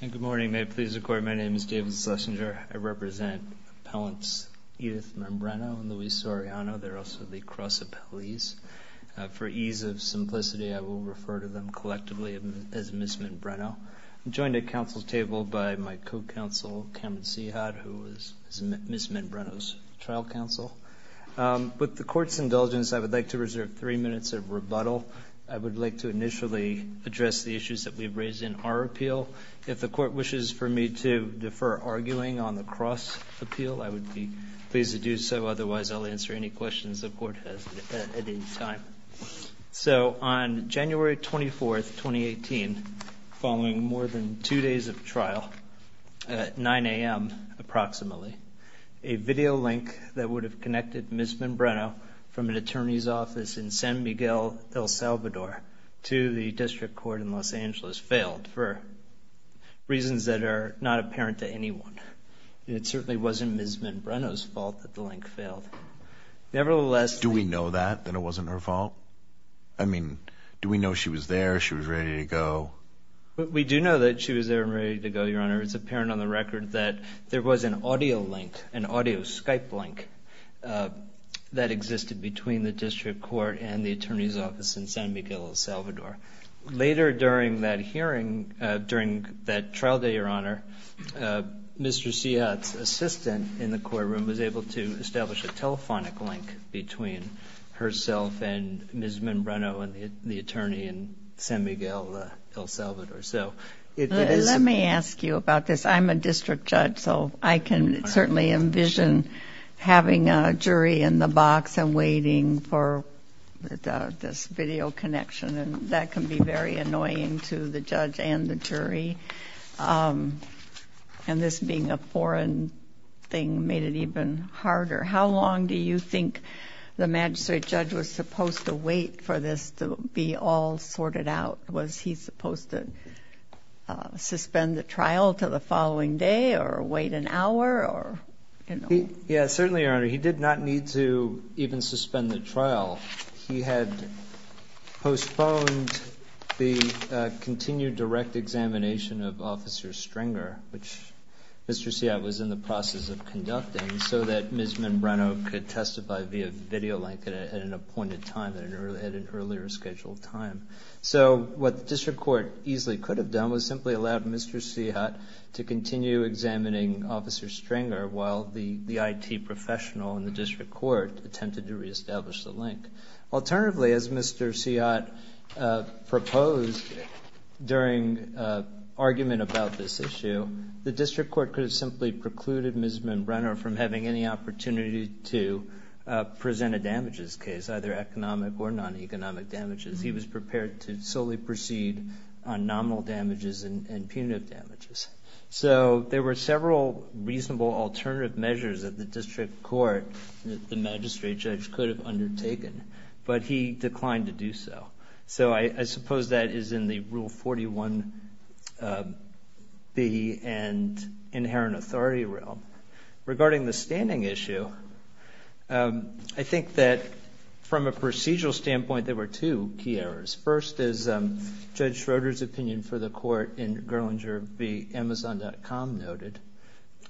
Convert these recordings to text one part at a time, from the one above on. Good morning. May it please the Court, my name is David Schlesinger. I represent Appellants Edith Menbreno and Luis Soriano. They're also the Cross Appellees. For ease of simplicity, I will refer to them collectively as Ms. Menbreno. I'm joined at Council's table by my co-Counsel Cameron Seahott, who is Ms. Menbreno's trial counsel. With the Court's indulgence, I would like to reserve three minutes of rebuttal. I would like to initially address the issues that we've raised in our appeal. If the Court wishes for me to defer arguing on the Cross Appeal, I would be pleased to do so. Otherwise, I'll answer any questions the Court has at any time. So, on January 24, 2018, following more than two days of trial, at 9 a.m. approximately, a video link that would have connected Ms. Menbreno from an attorney's office in San Miguel, El Salvador, to the District Court in Los Angeles failed, for reasons that are not apparent to anyone. It certainly wasn't Ms. Menbreno's fault that the link failed. Nevertheless... Do we know that, that it wasn't her fault? I mean, do we know she was there, she was ready to go? We do know that she was there and ready to go, Your Honor. It's apparent on the record that there was an audio link, an audio Skype link, that existed between the District Court and the attorney's office in San Miguel, El Salvador. Later, during that hearing, during that trial day, Your Honor, Mr. Seahat's assistant in the courtroom was able to establish a telephonic link between herself and Ms. Menbreno and the attorney in San Miguel, El Salvador. So, it is... Let me ask you about this. I'm a district judge, so I can certainly envision having a jury in the box and waiting for this video connection, and that can be very annoying to the judge and the jury. And this being a foreign thing made it even harder. How long do you think the magistrate judge was supposed to wait for this to be all sorted out? Was he supposed to suspend the trial to the following day or wait an hour or, you know? Yeah, certainly, Your Honor, he did not need to even suspend the trial. He had postponed the continued direct examination of Officer Stringer, which Mr. Seahat was in the process of conducting, so that Ms. Menbreno could testify via video link at an appointed time, at an earlier scheduled time. So, what the district court easily could have done was simply allowed Mr. Seahat to continue examining Officer Stringer while the IT professional in the district court attempted to reestablish the link. Alternatively, as Mr. Seahat proposed during argument about this issue, the district court could have simply precluded Ms. Menbreno from having any opportunity to present a damages case, either economic or non-economic damages. He was prepared to solely proceed on nominal damages and punitive damages. So, there were several reasonable alternative measures that the district court, the magistrate judge, could have undertaken, but he declined to do so. So, I suppose that is in the Rule 41B and inherent of the law. In the authority realm, regarding the standing issue, I think that from a procedural standpoint there were two key errors. First, as Judge Schroeder's opinion for the court in Gerlinger v. Amazon.com noted,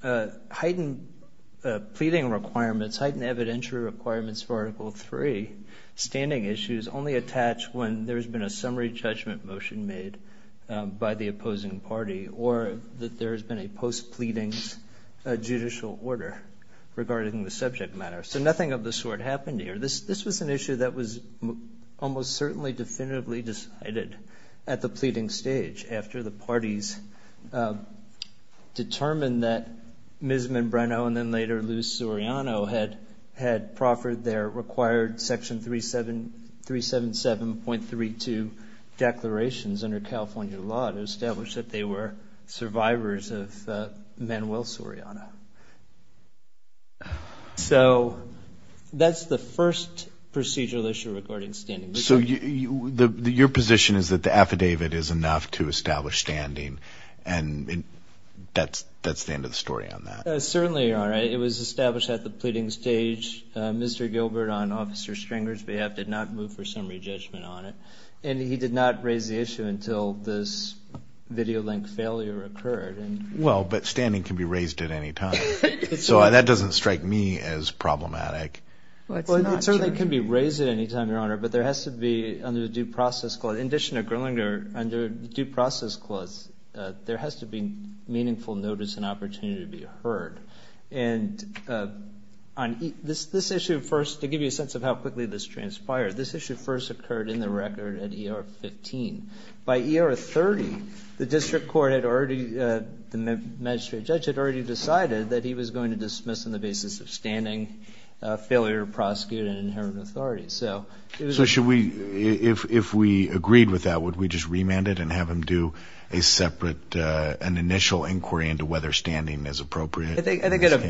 heightened pleading requirements, heightened evidentiary requirements for Article 3 standing issues only attach when there has been a summary judgment motion made by the district's judicial order regarding the subject matter. So, nothing of the sort happened here. This was an issue that was almost certainly definitively decided at the pleading stage after the parties determined that Ms. Menbreno and then later Lou Soriano had proffered their required Section 377.32 declarations under California law to establish that they were survivors of Manuel Soriano. So, that is the first procedural issue regarding standing. So, your position is that the affidavit is enough to establish standing and that is the end of the story on that? Certainly, Your Honor. It was established at the pleading stage. Mr. Gilbert, on Officer Stringer's behalf, did not move for summary judgment on it, and he did not raise the issue until this video link failure occurred. Well, but standing can be raised at any time. So, that does not strike me as problematic. Well, it certainly can be raised at any time, Your Honor, but there has to be, under due process clause, in addition to Gerlinger, under due process clause, there has to be meaningful notice and opportunity to be heard. And this issue first, to give you a sense of how quickly this transpired, this issue first occurred in the record at ER 15. By ER 30, the district court had already, the magistrate judge had already decided that he was going to dismiss on the basis of standing, failure to prosecute, and inherent authority. So, it was... So, should we, if we agreed with that, would we just remand it and have him do a separate, At a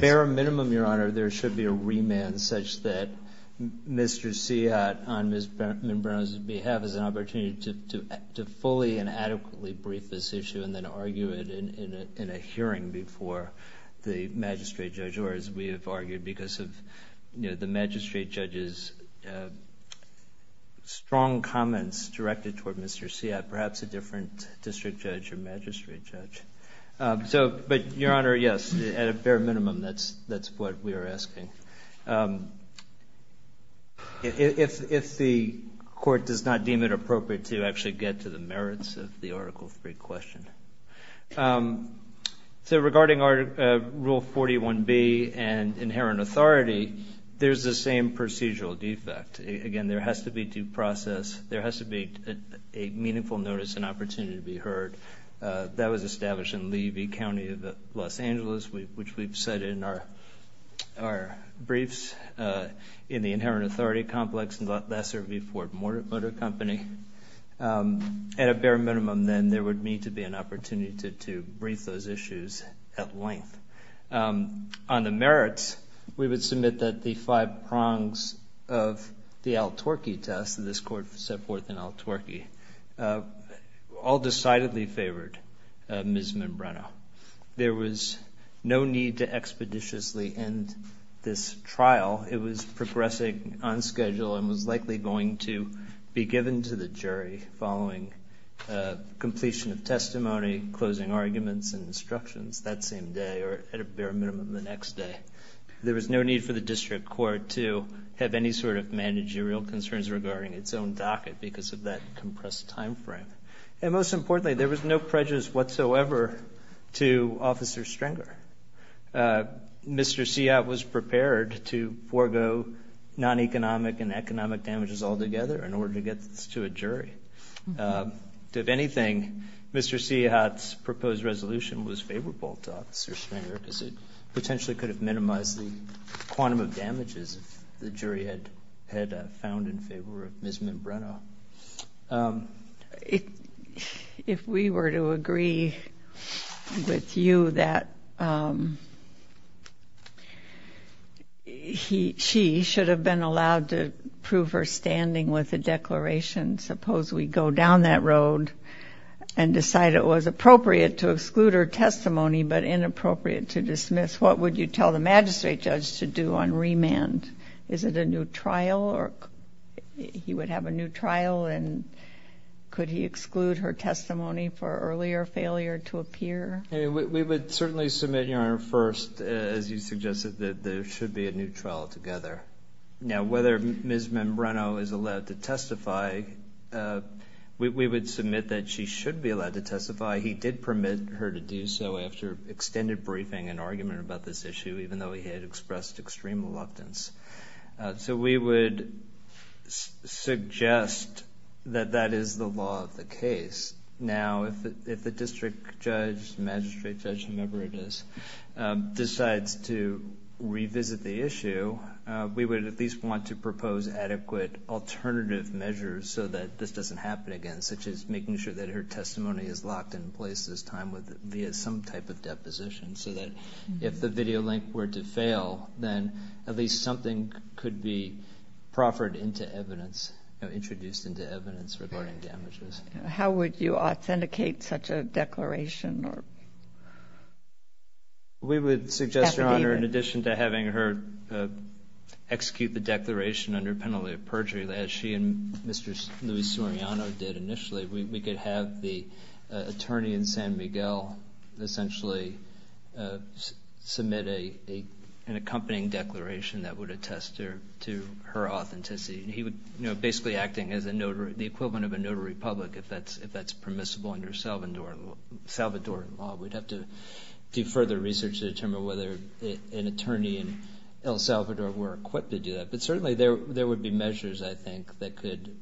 bare minimum, Your Honor, there should be a remand such that Mr. Seat, on Ms. Mimbrano's behalf, has an opportunity to fully and adequately brief this issue and then argue it in a hearing before the magistrate judge, or as we have argued, because of the magistrate judge's strong comments directed toward Mr. Seat, perhaps a different district judge or magistrate judge. So, but, Your Honor, yes, at a bare minimum, that's what we are asking. If the court does not deem it appropriate to actually get to the merits of the Article III question. So, regarding Rule 41B and inherent authority, there's the same procedural defect. Again, there has to be due process, there has to be a meaningful notice and opportunity to establish in Lee v. County of Los Angeles, which we've said in our briefs, in the inherent authority complex and lesser v. Ford Motor Company. At a bare minimum, then, there would need to be an opportunity to brief those issues at length. On the merits, we would submit that the five prongs of the Al-Twerky test, this court set forth in Al-Twerky, all decidedly favored Ms. Mimbrano. There was no need to expeditiously end this trial. It was progressing on schedule and was likely going to be given to the jury following completion of testimony, closing arguments and instructions that same day, or at a bare minimum, the next day. There was no need for the district court to have any sort of managerial concerns regarding its own docket because of that compressed time frame. And most importantly, there was no prejudice whatsoever to Officer Stringer. Mr. Seahat was prepared to forego non-economic and economic damages altogether in order to get this to a jury. If anything, Mr. Seahat's proposed resolution was favorable to Officer Stringer because it potentially could have Ms. Mimbrano. If we were to agree with you that she should have been allowed to prove her standing with a declaration, suppose we go down that road and decide it was appropriate to exclude her testimony but inappropriate to dismiss, what would you tell the magistrate judge to do on remand? Is it a new trial? He would have a new trial and could he exclude her testimony for earlier failure to appear? We would certainly submit, Your Honor, first, as you suggested, that there should be a new trial together. Now, whether Ms. Mimbrano is allowed to testify, we would submit that she should be allowed to testify. He did permit her to do so after extended briefing and argument about this issue, even though he had expressed extreme reluctance. So we would suggest that that is the law of the case. Now, if the district judge, magistrate judge, whomever it is, decides to revisit the issue, we would at least want to propose adequate alternative measures so that this doesn't happen again, such as making sure that her testimony is locked in place this time via some type of deposition so that if the video link were to fail, then at least something could be proffered into evidence, introduced into evidence regarding damages. How would you authenticate such a declaration? We would suggest, Your Honor, in addition to having her execute the declaration under penalty of perjury, as she and Mr. Luis Soriano did initially, we could have the attorney in San Miguel essentially submit an accompanying declaration that would attest to her authenticity. He would, you know, basically acting as the equivalent of a notary public if that's permissible under Salvadoran law. We'd have to do further research to determine whether an attorney in El Salvador were equipped to do that. But certainly there would be measures, I think, that could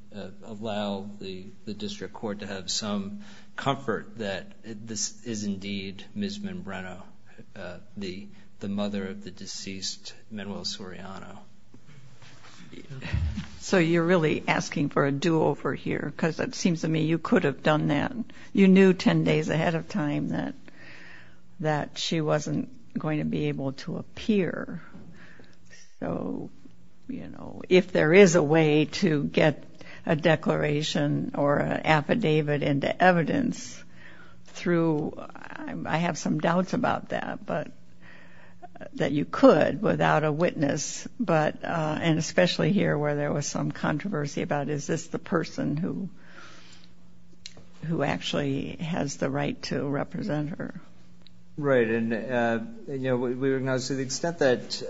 allow the district court to have some comfort that this is indeed Ms. Manbreno, the mother of the deceased Manuel Soriano. So you're really asking for a do-over here because it seems to me you could have done that. You knew ten days ahead of time that she wasn't going to be able to appear. So, you know, if there is a way to get a declaration or an affidavit into evidence through, I have some doubts about that, but, that you could without a witness, but, and especially here where there was some controversy about is this the person who actually has the right to represent her. Right. And, you know, we recognize to the extent that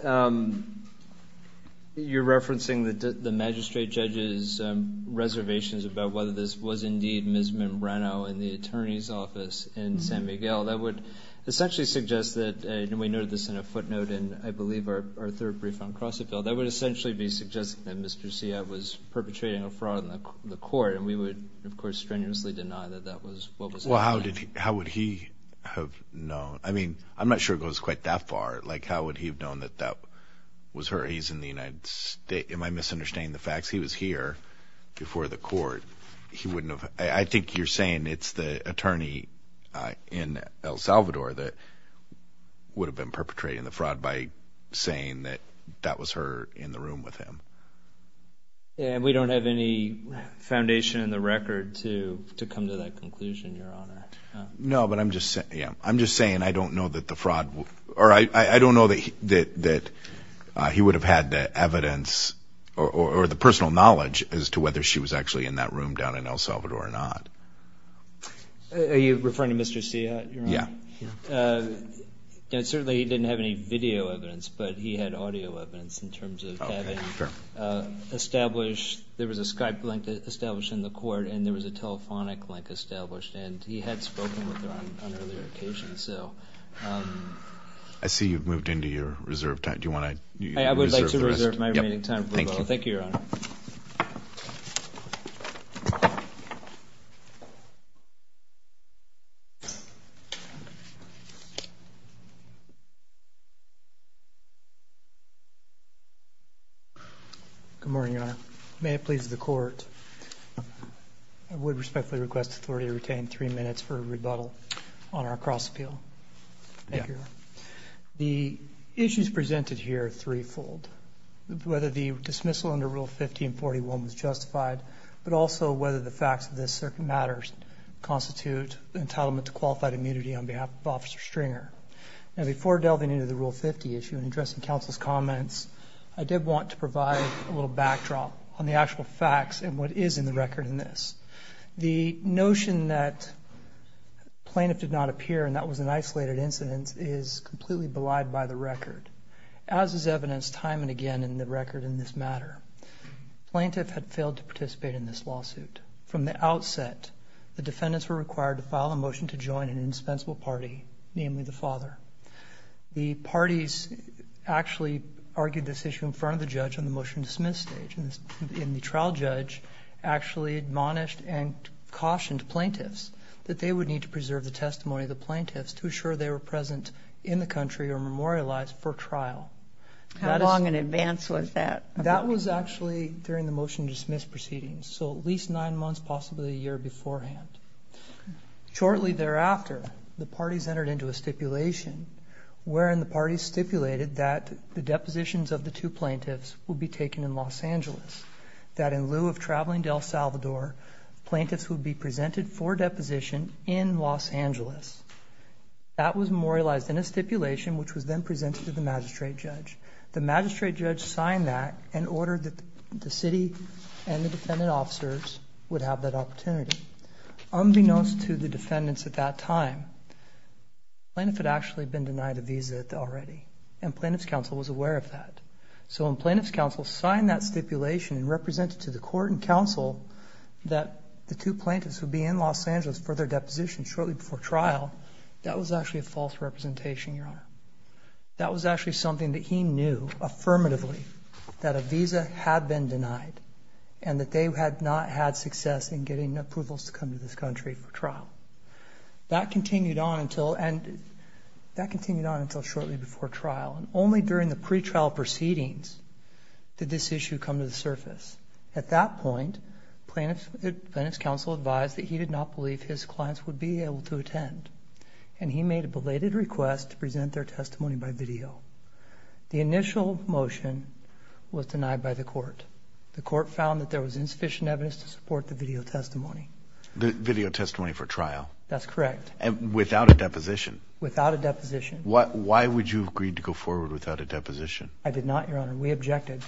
you're referencing the magistrate judge's reservations about whether this was indeed Ms. Manbreno in the attorney's office in San Miguel, that would essentially suggest that, and we noted this in a footnote in, I believe, our third brief on Crossetville, that would essentially be suggesting that Mr. Sia was perpetrating a fraud in the court, and we would, of course, strenuously deny that that was what was happening. Well, how would he have known? I mean, I'm not sure it goes quite that far. Like, how would he have known that that was her? He's in the United States. Am I misunderstanding the facts? He was here before the court. He wouldn't have, I think you're saying it's the attorney in El Salvador that would have been perpetrating the fraud by saying that that was her in the room with him. And we don't have any foundation in the record to come to that conclusion, Your Honor. No, but I'm just saying I don't know that the fraud, or I don't know that he would have had the evidence or the personal knowledge as to whether she was actually in that room down in El Salvador or not. Are you referring to Mr. Sia, Your Honor? Yeah. Certainly, he didn't have any video evidence, but he had audio evidence in terms of having established, there was a Skype link established in the court, and there was a telephonic link established, and he had spoken with her on earlier occasions, so. I see you've moved into your reserved time. Do you want to reserve the rest? I reserve my remaining time for rebuttal. Thank you. Thank you, Your Honor. Good morning, Your Honor. May it please the court, I would respectfully request authority to retain three minutes for rebuttal on our cross-appeal. Thank you, Your Honor. The issues presented here are threefold, whether the dismissal under Rule 50 and 41 was justified, but also whether the facts of this matter constitute entitlement to qualified immunity on behalf of Officer Stringer. Now, before delving into the Rule 50 issue and addressing counsel's comments, I did want to provide a little backdrop on the actual facts and what is in the record in this. The notion that plaintiff did not appear and that was an isolated incident is completely belied by the record, as is evidenced time and again in the record in this matter. Plaintiff had failed to participate in this lawsuit. From the outset, the defendants were required to file a motion to join an indispensable party, namely the father. The parties actually argued this issue in front of the judge on the motion to dismiss stage, and the trial judge actually admonished and cautioned plaintiffs that they would need to preserve the testimony of the plaintiffs to assure they were present in the country or memorialized for trial. How long in advance was that? That was actually during the motion to dismiss proceedings, so at least nine months, possibly a year beforehand. Shortly thereafter, the parties entered into a stipulation wherein the parties stipulated that the depositions of the two plaintiffs would be taken in Los Angeles, that in lieu of traveling to El Salvador, plaintiffs would be presented for deposition in Los Angeles. That was memorialized in a stipulation which was then presented to the magistrate judge. The magistrate judge signed that and ordered that the city and the defendant officers would have that opportunity. Unbeknownst to the defendants at that time, the plaintiff had actually been denied a visa already, and plaintiff's counsel was aware of that. So when plaintiff's counsel signed that stipulation and represented to the court and counsel that the two plaintiffs would be in Los Angeles for their deposition shortly before trial, that was actually a false representation, Your Honor. That was actually something that he knew affirmatively, that a visa had been denied, and that they had not had success in getting approvals to come to this country for trial. That continued on until shortly before trial, and only during the pretrial proceedings did this issue come to the surface. At that point, plaintiff's counsel advised that he did not believe his clients would be able to attend, and he made a belated request to present their testimony by video. The initial motion was denied by the court. The court found that there was insufficient evidence to support the video testimony. The video testimony for trial? That's correct. And without a deposition? Without a deposition. Why would you agree to go forward without a deposition? I did not, Your Honor. We objected.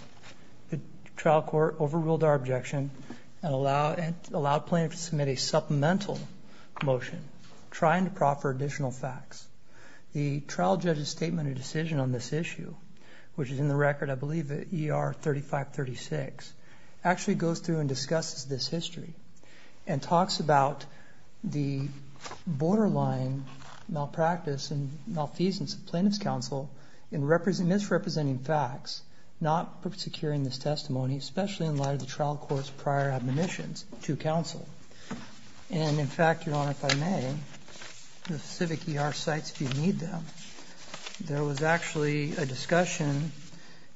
The trial court overruled our objection and allowed plaintiff to submit a supplemental motion, trying to proffer additional facts. The trial judge's statement and decision on this issue, which is in the record, I believe, at ER 3536, actually goes through and discusses this history and talks about the borderline malpractice and malfeasance of plaintiff's counsel in misrepresenting facts, not securing this testimony, especially in light of the trial court's prior admonitions to counsel. And in fact, Your Honor, if I may, the civic ER sites, if you need them, there was actually a discussion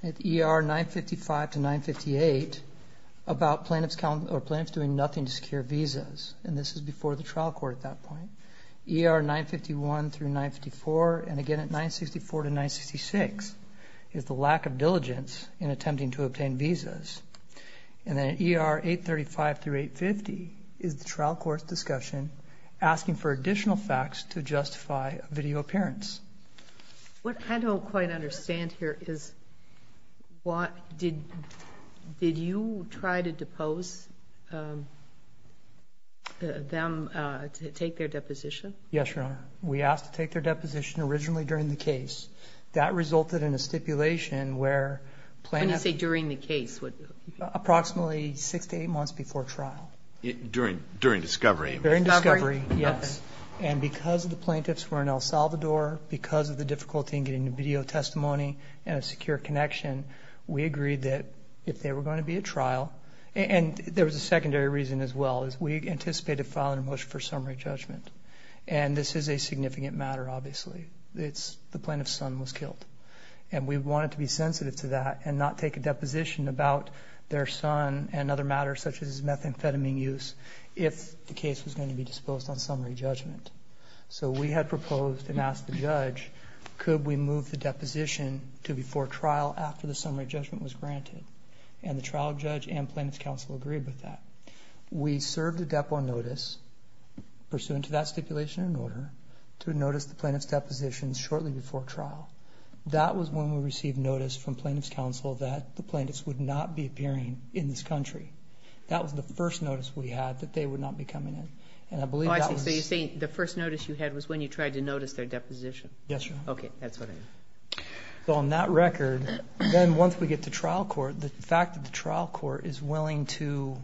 at ER 955 to 958 about plaintiff's doing nothing to secure visas, and this is before the trial court at that point. ER 951 through 954, and again at 964 to 966, is the lack of diligence in attempting to obtain visas. And then at ER 835 through 850 is the trial court's discussion asking for additional facts to justify a video appearance. What I don't quite understand here is, did you try to depose them to take their deposition? Yes, Your Honor. We asked to take their deposition originally during the case. That resulted in a stipulation where plaintiffs... When you say during the case, what... Approximately six to eight months before trial. During discovery. During discovery, yes. And because the plaintiffs were in El Salvador, because of the difficulty in getting a video testimony and a secure connection, we agreed that if they were going to be at trial... And there was a secondary reason as well, is we anticipated filing a motion for summary judgment. And this is a significant matter, obviously. The plaintiff's son was killed. And we wanted to be sensitive to that and not take a deposition about their son and So we had proposed and asked the judge, could we move the deposition to before trial after the summary judgment was granted? And the trial judge and plaintiff's counsel agreed with that. We served a depo notice pursuant to that stipulation and order to notice the plaintiff's deposition shortly before trial. That was when we received notice from plaintiff's counsel that the plaintiffs would not be appearing in this country. That was the first notice we had that they would not be coming in. So you're saying the first notice you had was when you tried to notice their deposition? Yes, Your Honor. Okay, that's what I mean. So on that record, then once we get to trial court, the fact that the trial court is willing to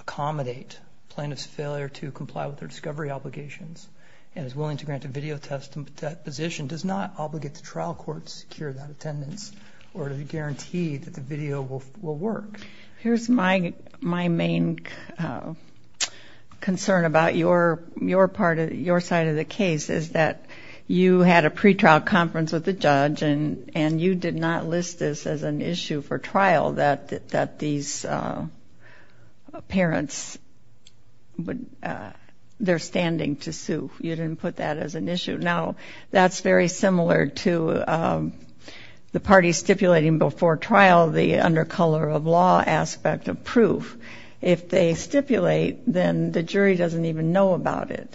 accommodate plaintiff's failure to comply with their discovery obligations and is willing to grant a video test and deposition does not obligate the trial court to secure that attendance or to guarantee that the video will work. Here's my main concern about your side of the case is that you had a pretrial conference with the judge and you did not list this as an issue for trial that these parents, they're standing to sue. You didn't put that as an issue. Now, that's very similar to the parties stipulating before trial the undercolor of law aspect of proof. If they stipulate, then the jury doesn't even know about it.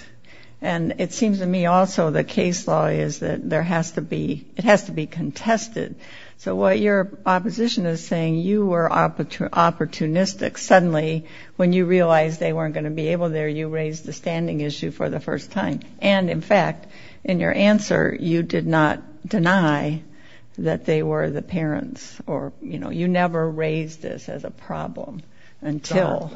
And it seems to me also the case law is that there has to be, it has to be contested. So what your opposition is saying, you were opportunistic, suddenly when you realized they weren't going to be able there, you raised the standing issue for the first time. And in fact, in your answer, you did not deny that they were the parents or, you know, you never raised this as a problem until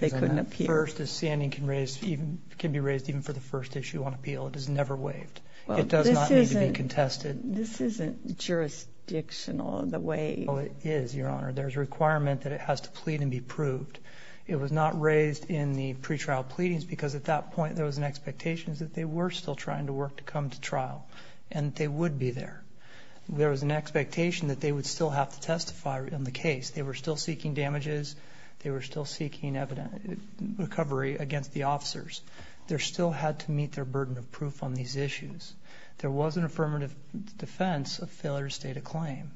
they couldn't appeal. First the standing can raise, can be raised even for the first issue on appeal, it is never waived. It does not need to be contested. This isn't jurisdictional in the way. Oh, it is, Your Honor. There's a requirement that it has to plead and be proved. It was not raised in the pretrial pleadings because at that point there was an expectation that they were still trying to work to come to trial and they would be there. There was an expectation that they would still have to testify on the case. They were still seeking damages. They were still seeking evidence, recovery against the officers. There still had to meet their burden of proof on these issues. There was an affirmative defense of failure to state a claim.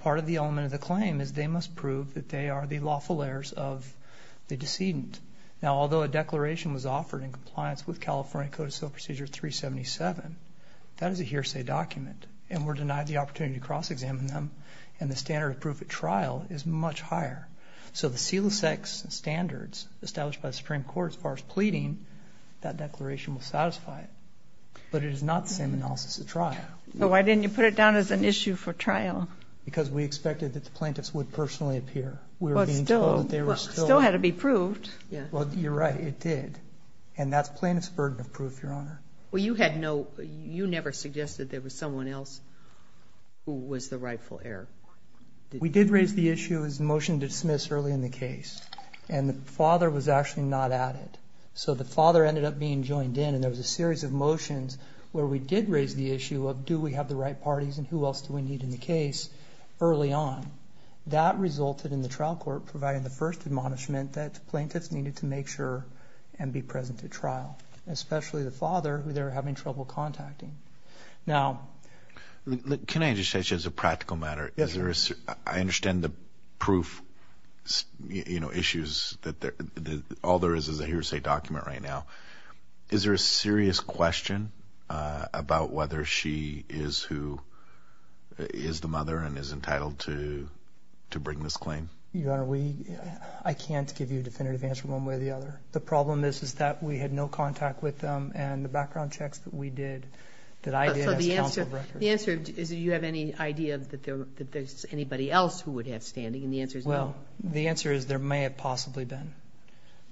Part of the element of the claim is they must prove that they are the lawful heirs of the decedent. Now, although a declaration was offered in compliance with California Code of Civil Procedure 377, that is a hearsay document and were denied the opportunity to cross-examine them and the standard of proof at trial is much higher. So the CELIS-X standards established by the Supreme Court as far as pleading, that declaration But it is not the same analysis at trial. So why didn't you put it down as an issue for trial? Because we expected that the plaintiffs would personally appear. We were being told that they were still... Still had to be proved. Well, you're right, it did. And that's plaintiff's burden of proof, Your Honor. Well, you had no... You never suggested there was someone else who was the rightful heir. We did raise the issue as a motion to dismiss early in the case and the father was actually not at it. So the father ended up being joined in and there was a series of motions where we did raise the issue of, do we have the right parties and who else do we need in the case early on? That resulted in the trial court providing the first admonishment that plaintiffs needed to make sure and be present at trial, especially the father who they were having trouble contacting. Now... Can I just say, just as a practical matter, I understand the proof issues, that all there is is a hearsay document right now. Is there a serious question about whether she is the mother and is entitled to bring this claim? Your Honor, we... I can't give you a definitive answer one way or the other. The problem is that we had no contact with them and the background checks that we did, that I did as counsel... So the answer is, do you have any idea that there's anybody else who would have standing and the answer is no? Well, the answer is there may have possibly been.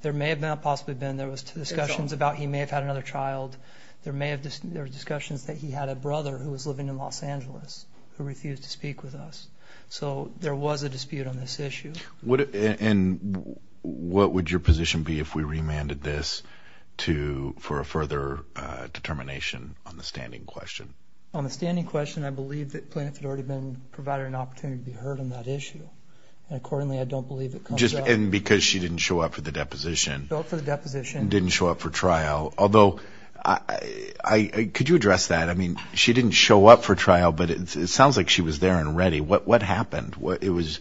There may have not possibly been. There was discussions about he may have had another child. There were discussions that he had a brother who was living in Los Angeles who refused to speak with us. So there was a dispute on this issue. And what would your position be if we remanded this for a further determination on the standing question? On the standing question, I believe that plaintiffs had already been provided an opportunity to be heard on that issue and accordingly, I don't believe it comes up. And because she didn't show up for the deposition. She didn't show up for the deposition. She didn't show up for trial. Although, could you address that? I mean, she didn't show up for trial, but it sounds like she was there and ready. What happened? It was...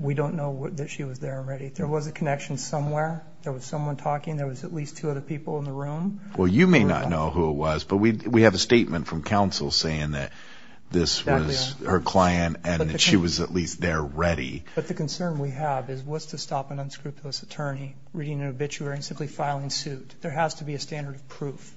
We don't know that she was there and ready. There was a connection somewhere. There was someone talking. There was at least two other people in the room. Well, you may not know who it was, but we have a statement from counsel saying that this was her client and that she was at least there ready. But the concern we have is what's to stop an unscrupulous attorney reading an obituary and simply filing suit? There has to be a standard of proof.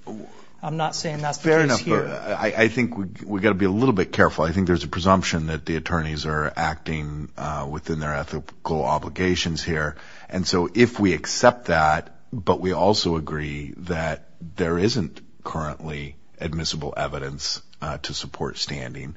I'm not saying that's the case here. Fair enough, but I think we've got to be a little bit careful. I think there's a presumption that the attorneys are acting within their ethical obligations here. And so if we accept that, but we also agree that there isn't currently admissible evidence to support standing,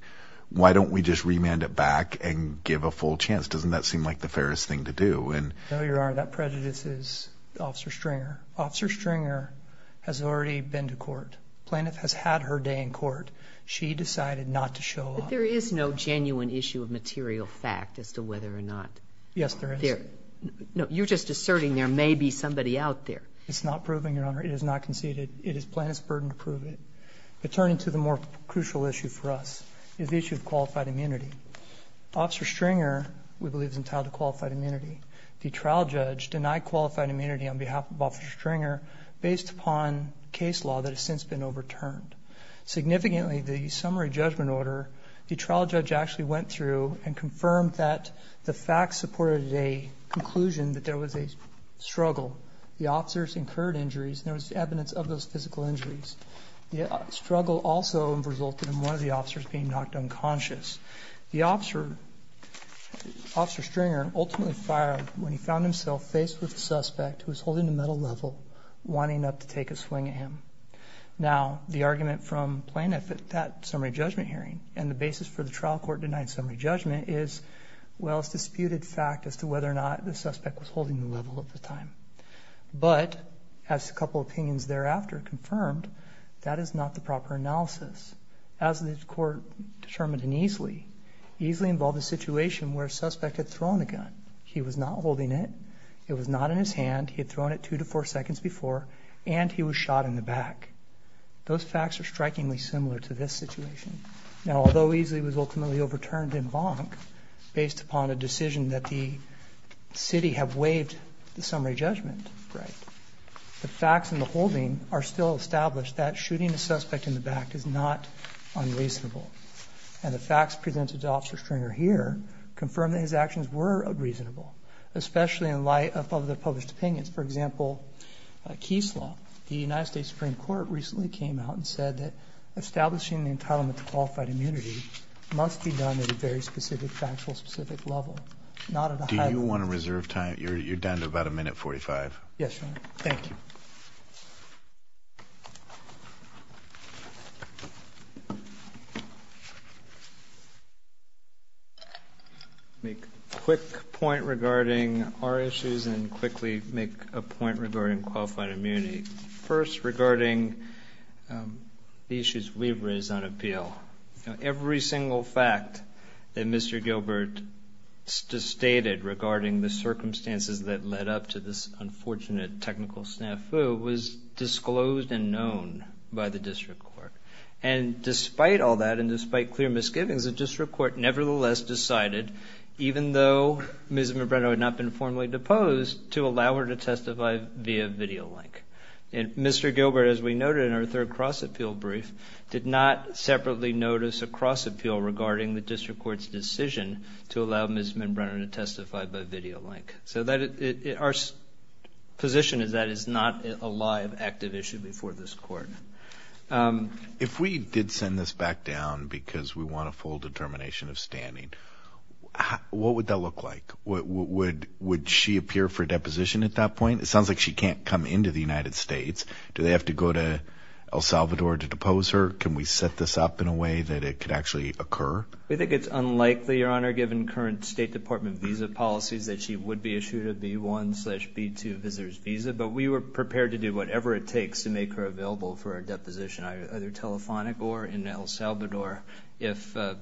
why don't we just remand it back and give a full chance? Doesn't that seem like the fairest thing to do? And... No, Your Honor, that prejudice is Officer Stringer. Officer Stringer has already been to court. Plaintiff has had her day in court. She decided not to show up. But there is no genuine issue of material fact as to whether or not... Yes, there is. There... No, you're just asserting there may be somebody out there. It's not proving, Your Honor. It is not conceded. It is Plaintiff's burden to prove it. But turning to the more crucial issue for us is the issue of qualified immunity. Officer Stringer, we believe, is entitled to qualified immunity. The trial judge denied qualified immunity on behalf of Officer Stringer based upon case law that has since been overturned. Significantly, the summary judgment order, the trial judge actually went through and confirmed that the facts supported a conclusion that there was a struggle. The officers incurred injuries and there was evidence of those physical injuries. The struggle also resulted in one of the officers being knocked unconscious. The officer, Officer Stringer, ultimately fired when he found himself faced with a suspect who was holding the metal level, wanting to take a swing at him. Now, the argument from Plaintiff at that summary judgment hearing and the basis for the trial court denying summary judgment is, well, it's disputed fact as to whether or not the suspect was holding the level at the time. But, as a couple of opinions thereafter confirmed, that is not the proper analysis. As the court determined in Easley, Easley involved a situation where a suspect had thrown a gun, he was not holding it, it was not in his hand, he had thrown it two to four seconds before, and he was shot in the back. Those facts are strikingly similar to this situation. Now, although Easley was ultimately overturned in Bonk based upon a decision that the city had waived the summary judgment right, the facts in the holding are still established that shooting a suspect in the back is not unreasonable, and the facts presented to Officer Stringer here confirm that his actions were unreasonable, especially in light of the published opinions. For example, Keeslaw, the United States Supreme Court recently came out and said that establishing the entitlement to qualified immunity must be done at a very specific factual specific level, not at a high level. Do you want to reserve time? You're down to about a minute forty-five. Yes, Your Honor. Thank you. I'll make a quick point regarding our issues and quickly make a point regarding qualified immunity. First, regarding the issues we've raised on appeal. Every single fact that Mr. Gilbert just stated regarding the circumstances that led up to this unfortunate technical snafu was disclosed and known by the district court, and despite all that and despite clear misgivings, the district court nevertheless decided, even though Ms. Mabrano had not been formally deposed, to allow her to testify via video link. And Mr. Gilbert, as we noted in our third cross-appeal brief, did not separately notice a cross-appeal regarding the district court's decision to allow Ms. Mabrano to testify by video link. So our position is that is not a live, active issue before this court. If we did send this back down because we want a full determination of standing, what would that look like? Would she appear for deposition at that point? It sounds like she can't come into the United States. Do they have to go to El Salvador to depose her? Can we set this up in a way that it could actually occur? We think it's unlikely, Your Honor, given current State Department visa policies, that she would be issued a B-1 slash B-2 visitor's visa, but we were prepared to do whatever it takes to make her available for a deposition, either telephonic or in El Salvador if the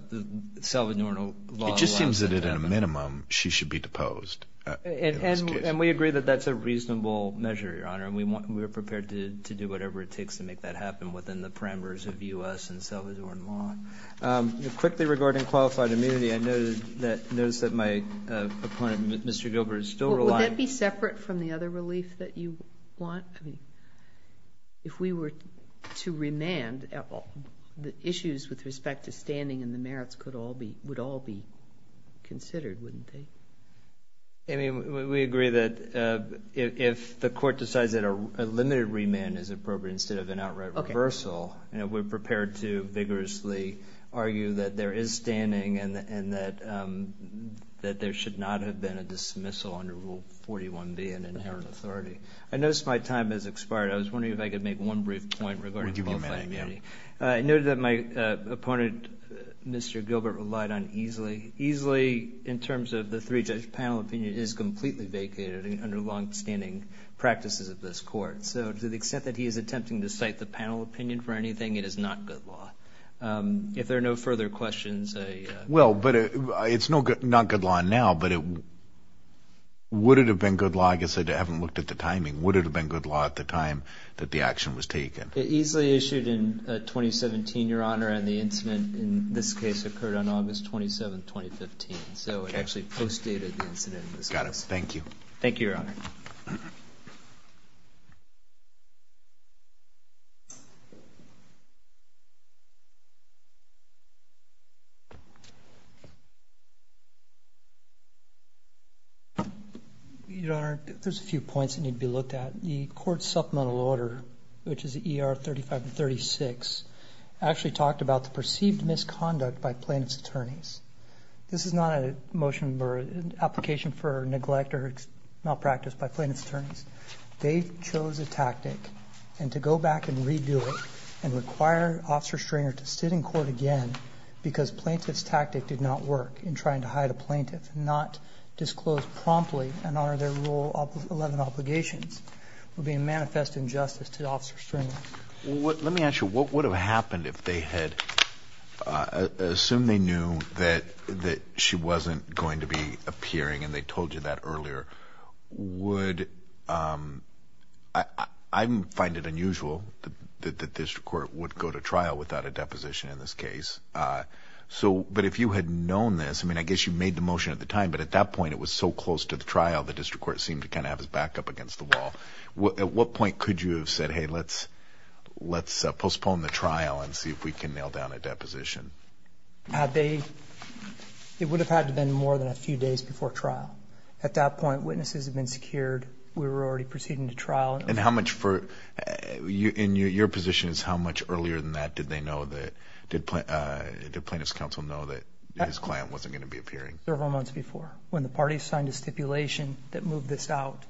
Salvadoran law allows it. It just seems that at a minimum, she should be deposed. And we agree that that's a reasonable measure, Your Honor, and we are prepared to do whatever it takes to make that happen within the parameters of U.S. and Salvadoran law. Quickly regarding qualified immunity, I noticed that my opponent, Mr. Gilbert, is still relying Would that be separate from the other relief that you want? If we were to remand, the issues with respect to standing and the merits would all be considered, wouldn't they? I mean, we agree that if the court decides that a limited remand is appropriate instead of an outright reversal, we're prepared to vigorously argue that there is standing and that there should not have been a dismissal under Rule 41B, an inherent authority. I noticed my time has expired. I was wondering if I could make one brief point regarding qualified immunity. I noted that my opponent, Mr. Gilbert, relied on EASLEE. EASLEE in terms of the three-judge panel opinion is completely vacated under longstanding practices of this court. So to the extent that he is attempting to cite the panel opinion for anything, it is not good law. If there are no further questions, I... Well, but it's not good law now, but would it have been good law, I guess I haven't looked at the timing, would it have been good law at the time that the action was taken? EASLEE issued in 2017, Your Honor, and the incident in this case occurred on August 27, 2015. So it actually postdated the incident in this case. Got it. Thank you. Thank you, Your Honor. Your Honor, there's a few points that need to be looked at. The court supplemental order, which is ER 35 and 36, actually talked about the perceived misconduct by plaintiff's attorneys. This is not a motion or an application for neglect or malpractice by plaintiff's attorneys. They chose a tactic and to go back and redo it and require Officer Stringer to sit in court again because plaintiff's tactic did not work in trying to hide a plaintiff, not promptly and honor their Rule 11 obligations for being manifest injustice to Officer Stringer. Let me ask you, what would have happened if they had assumed they knew that she wasn't going to be appearing, and they told you that earlier, would... I find it unusual that this court would go to trial without a deposition in this case. But if you had known this, I mean, I guess you made the motion at the time, but at that point it was so close to the trial, the district court seemed to kind of have his back up against the wall. At what point could you have said, hey, let's postpone the trial and see if we can nail down a deposition? It would have had to have been more than a few days before trial. At that point, witnesses had been secured, we were already proceeding to trial. And how much for, in your positions, how much earlier than that did they know that, did plaintiff's counsel know that his client wasn't going to be appearing? Several months before. When the parties signed a stipulation that moved this out,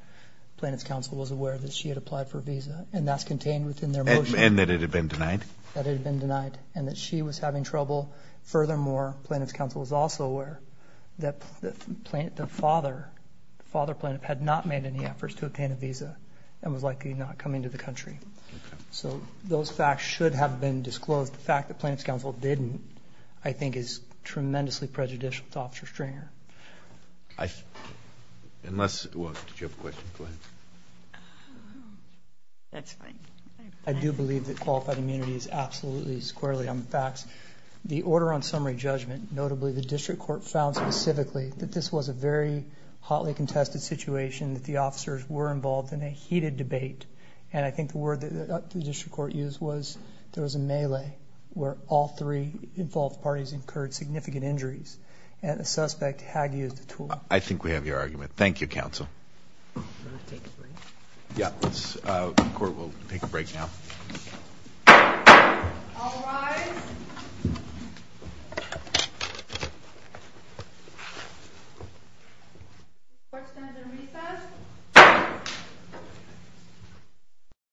plaintiff's counsel was aware that she had applied for a visa, and that's contained within their motion. And that it had been denied? That it had been denied, and that she was having trouble. Furthermore, plaintiff's counsel was also aware that the father, the father plaintiff, had not made any efforts to obtain a visa, and was likely not coming to the country. So those facts should have been disclosed. The fact that plaintiff's counsel didn't, I think is tremendously prejudicial to Officer Stringer. Unless, well, did you have a question, go ahead. I do believe that qualified immunity is absolutely squarely on the facts. The order on summary judgment, notably the district court found specifically that this was a very hotly contested situation, that the officers were involved in a heated debate. And I think the word that the district court used was there was a melee, where all three involved parties incurred significant injuries, and the suspect had used the tool. I think we have your argument. Thank you, counsel. Can we take a break? Yeah. The court will take a break now. All rise.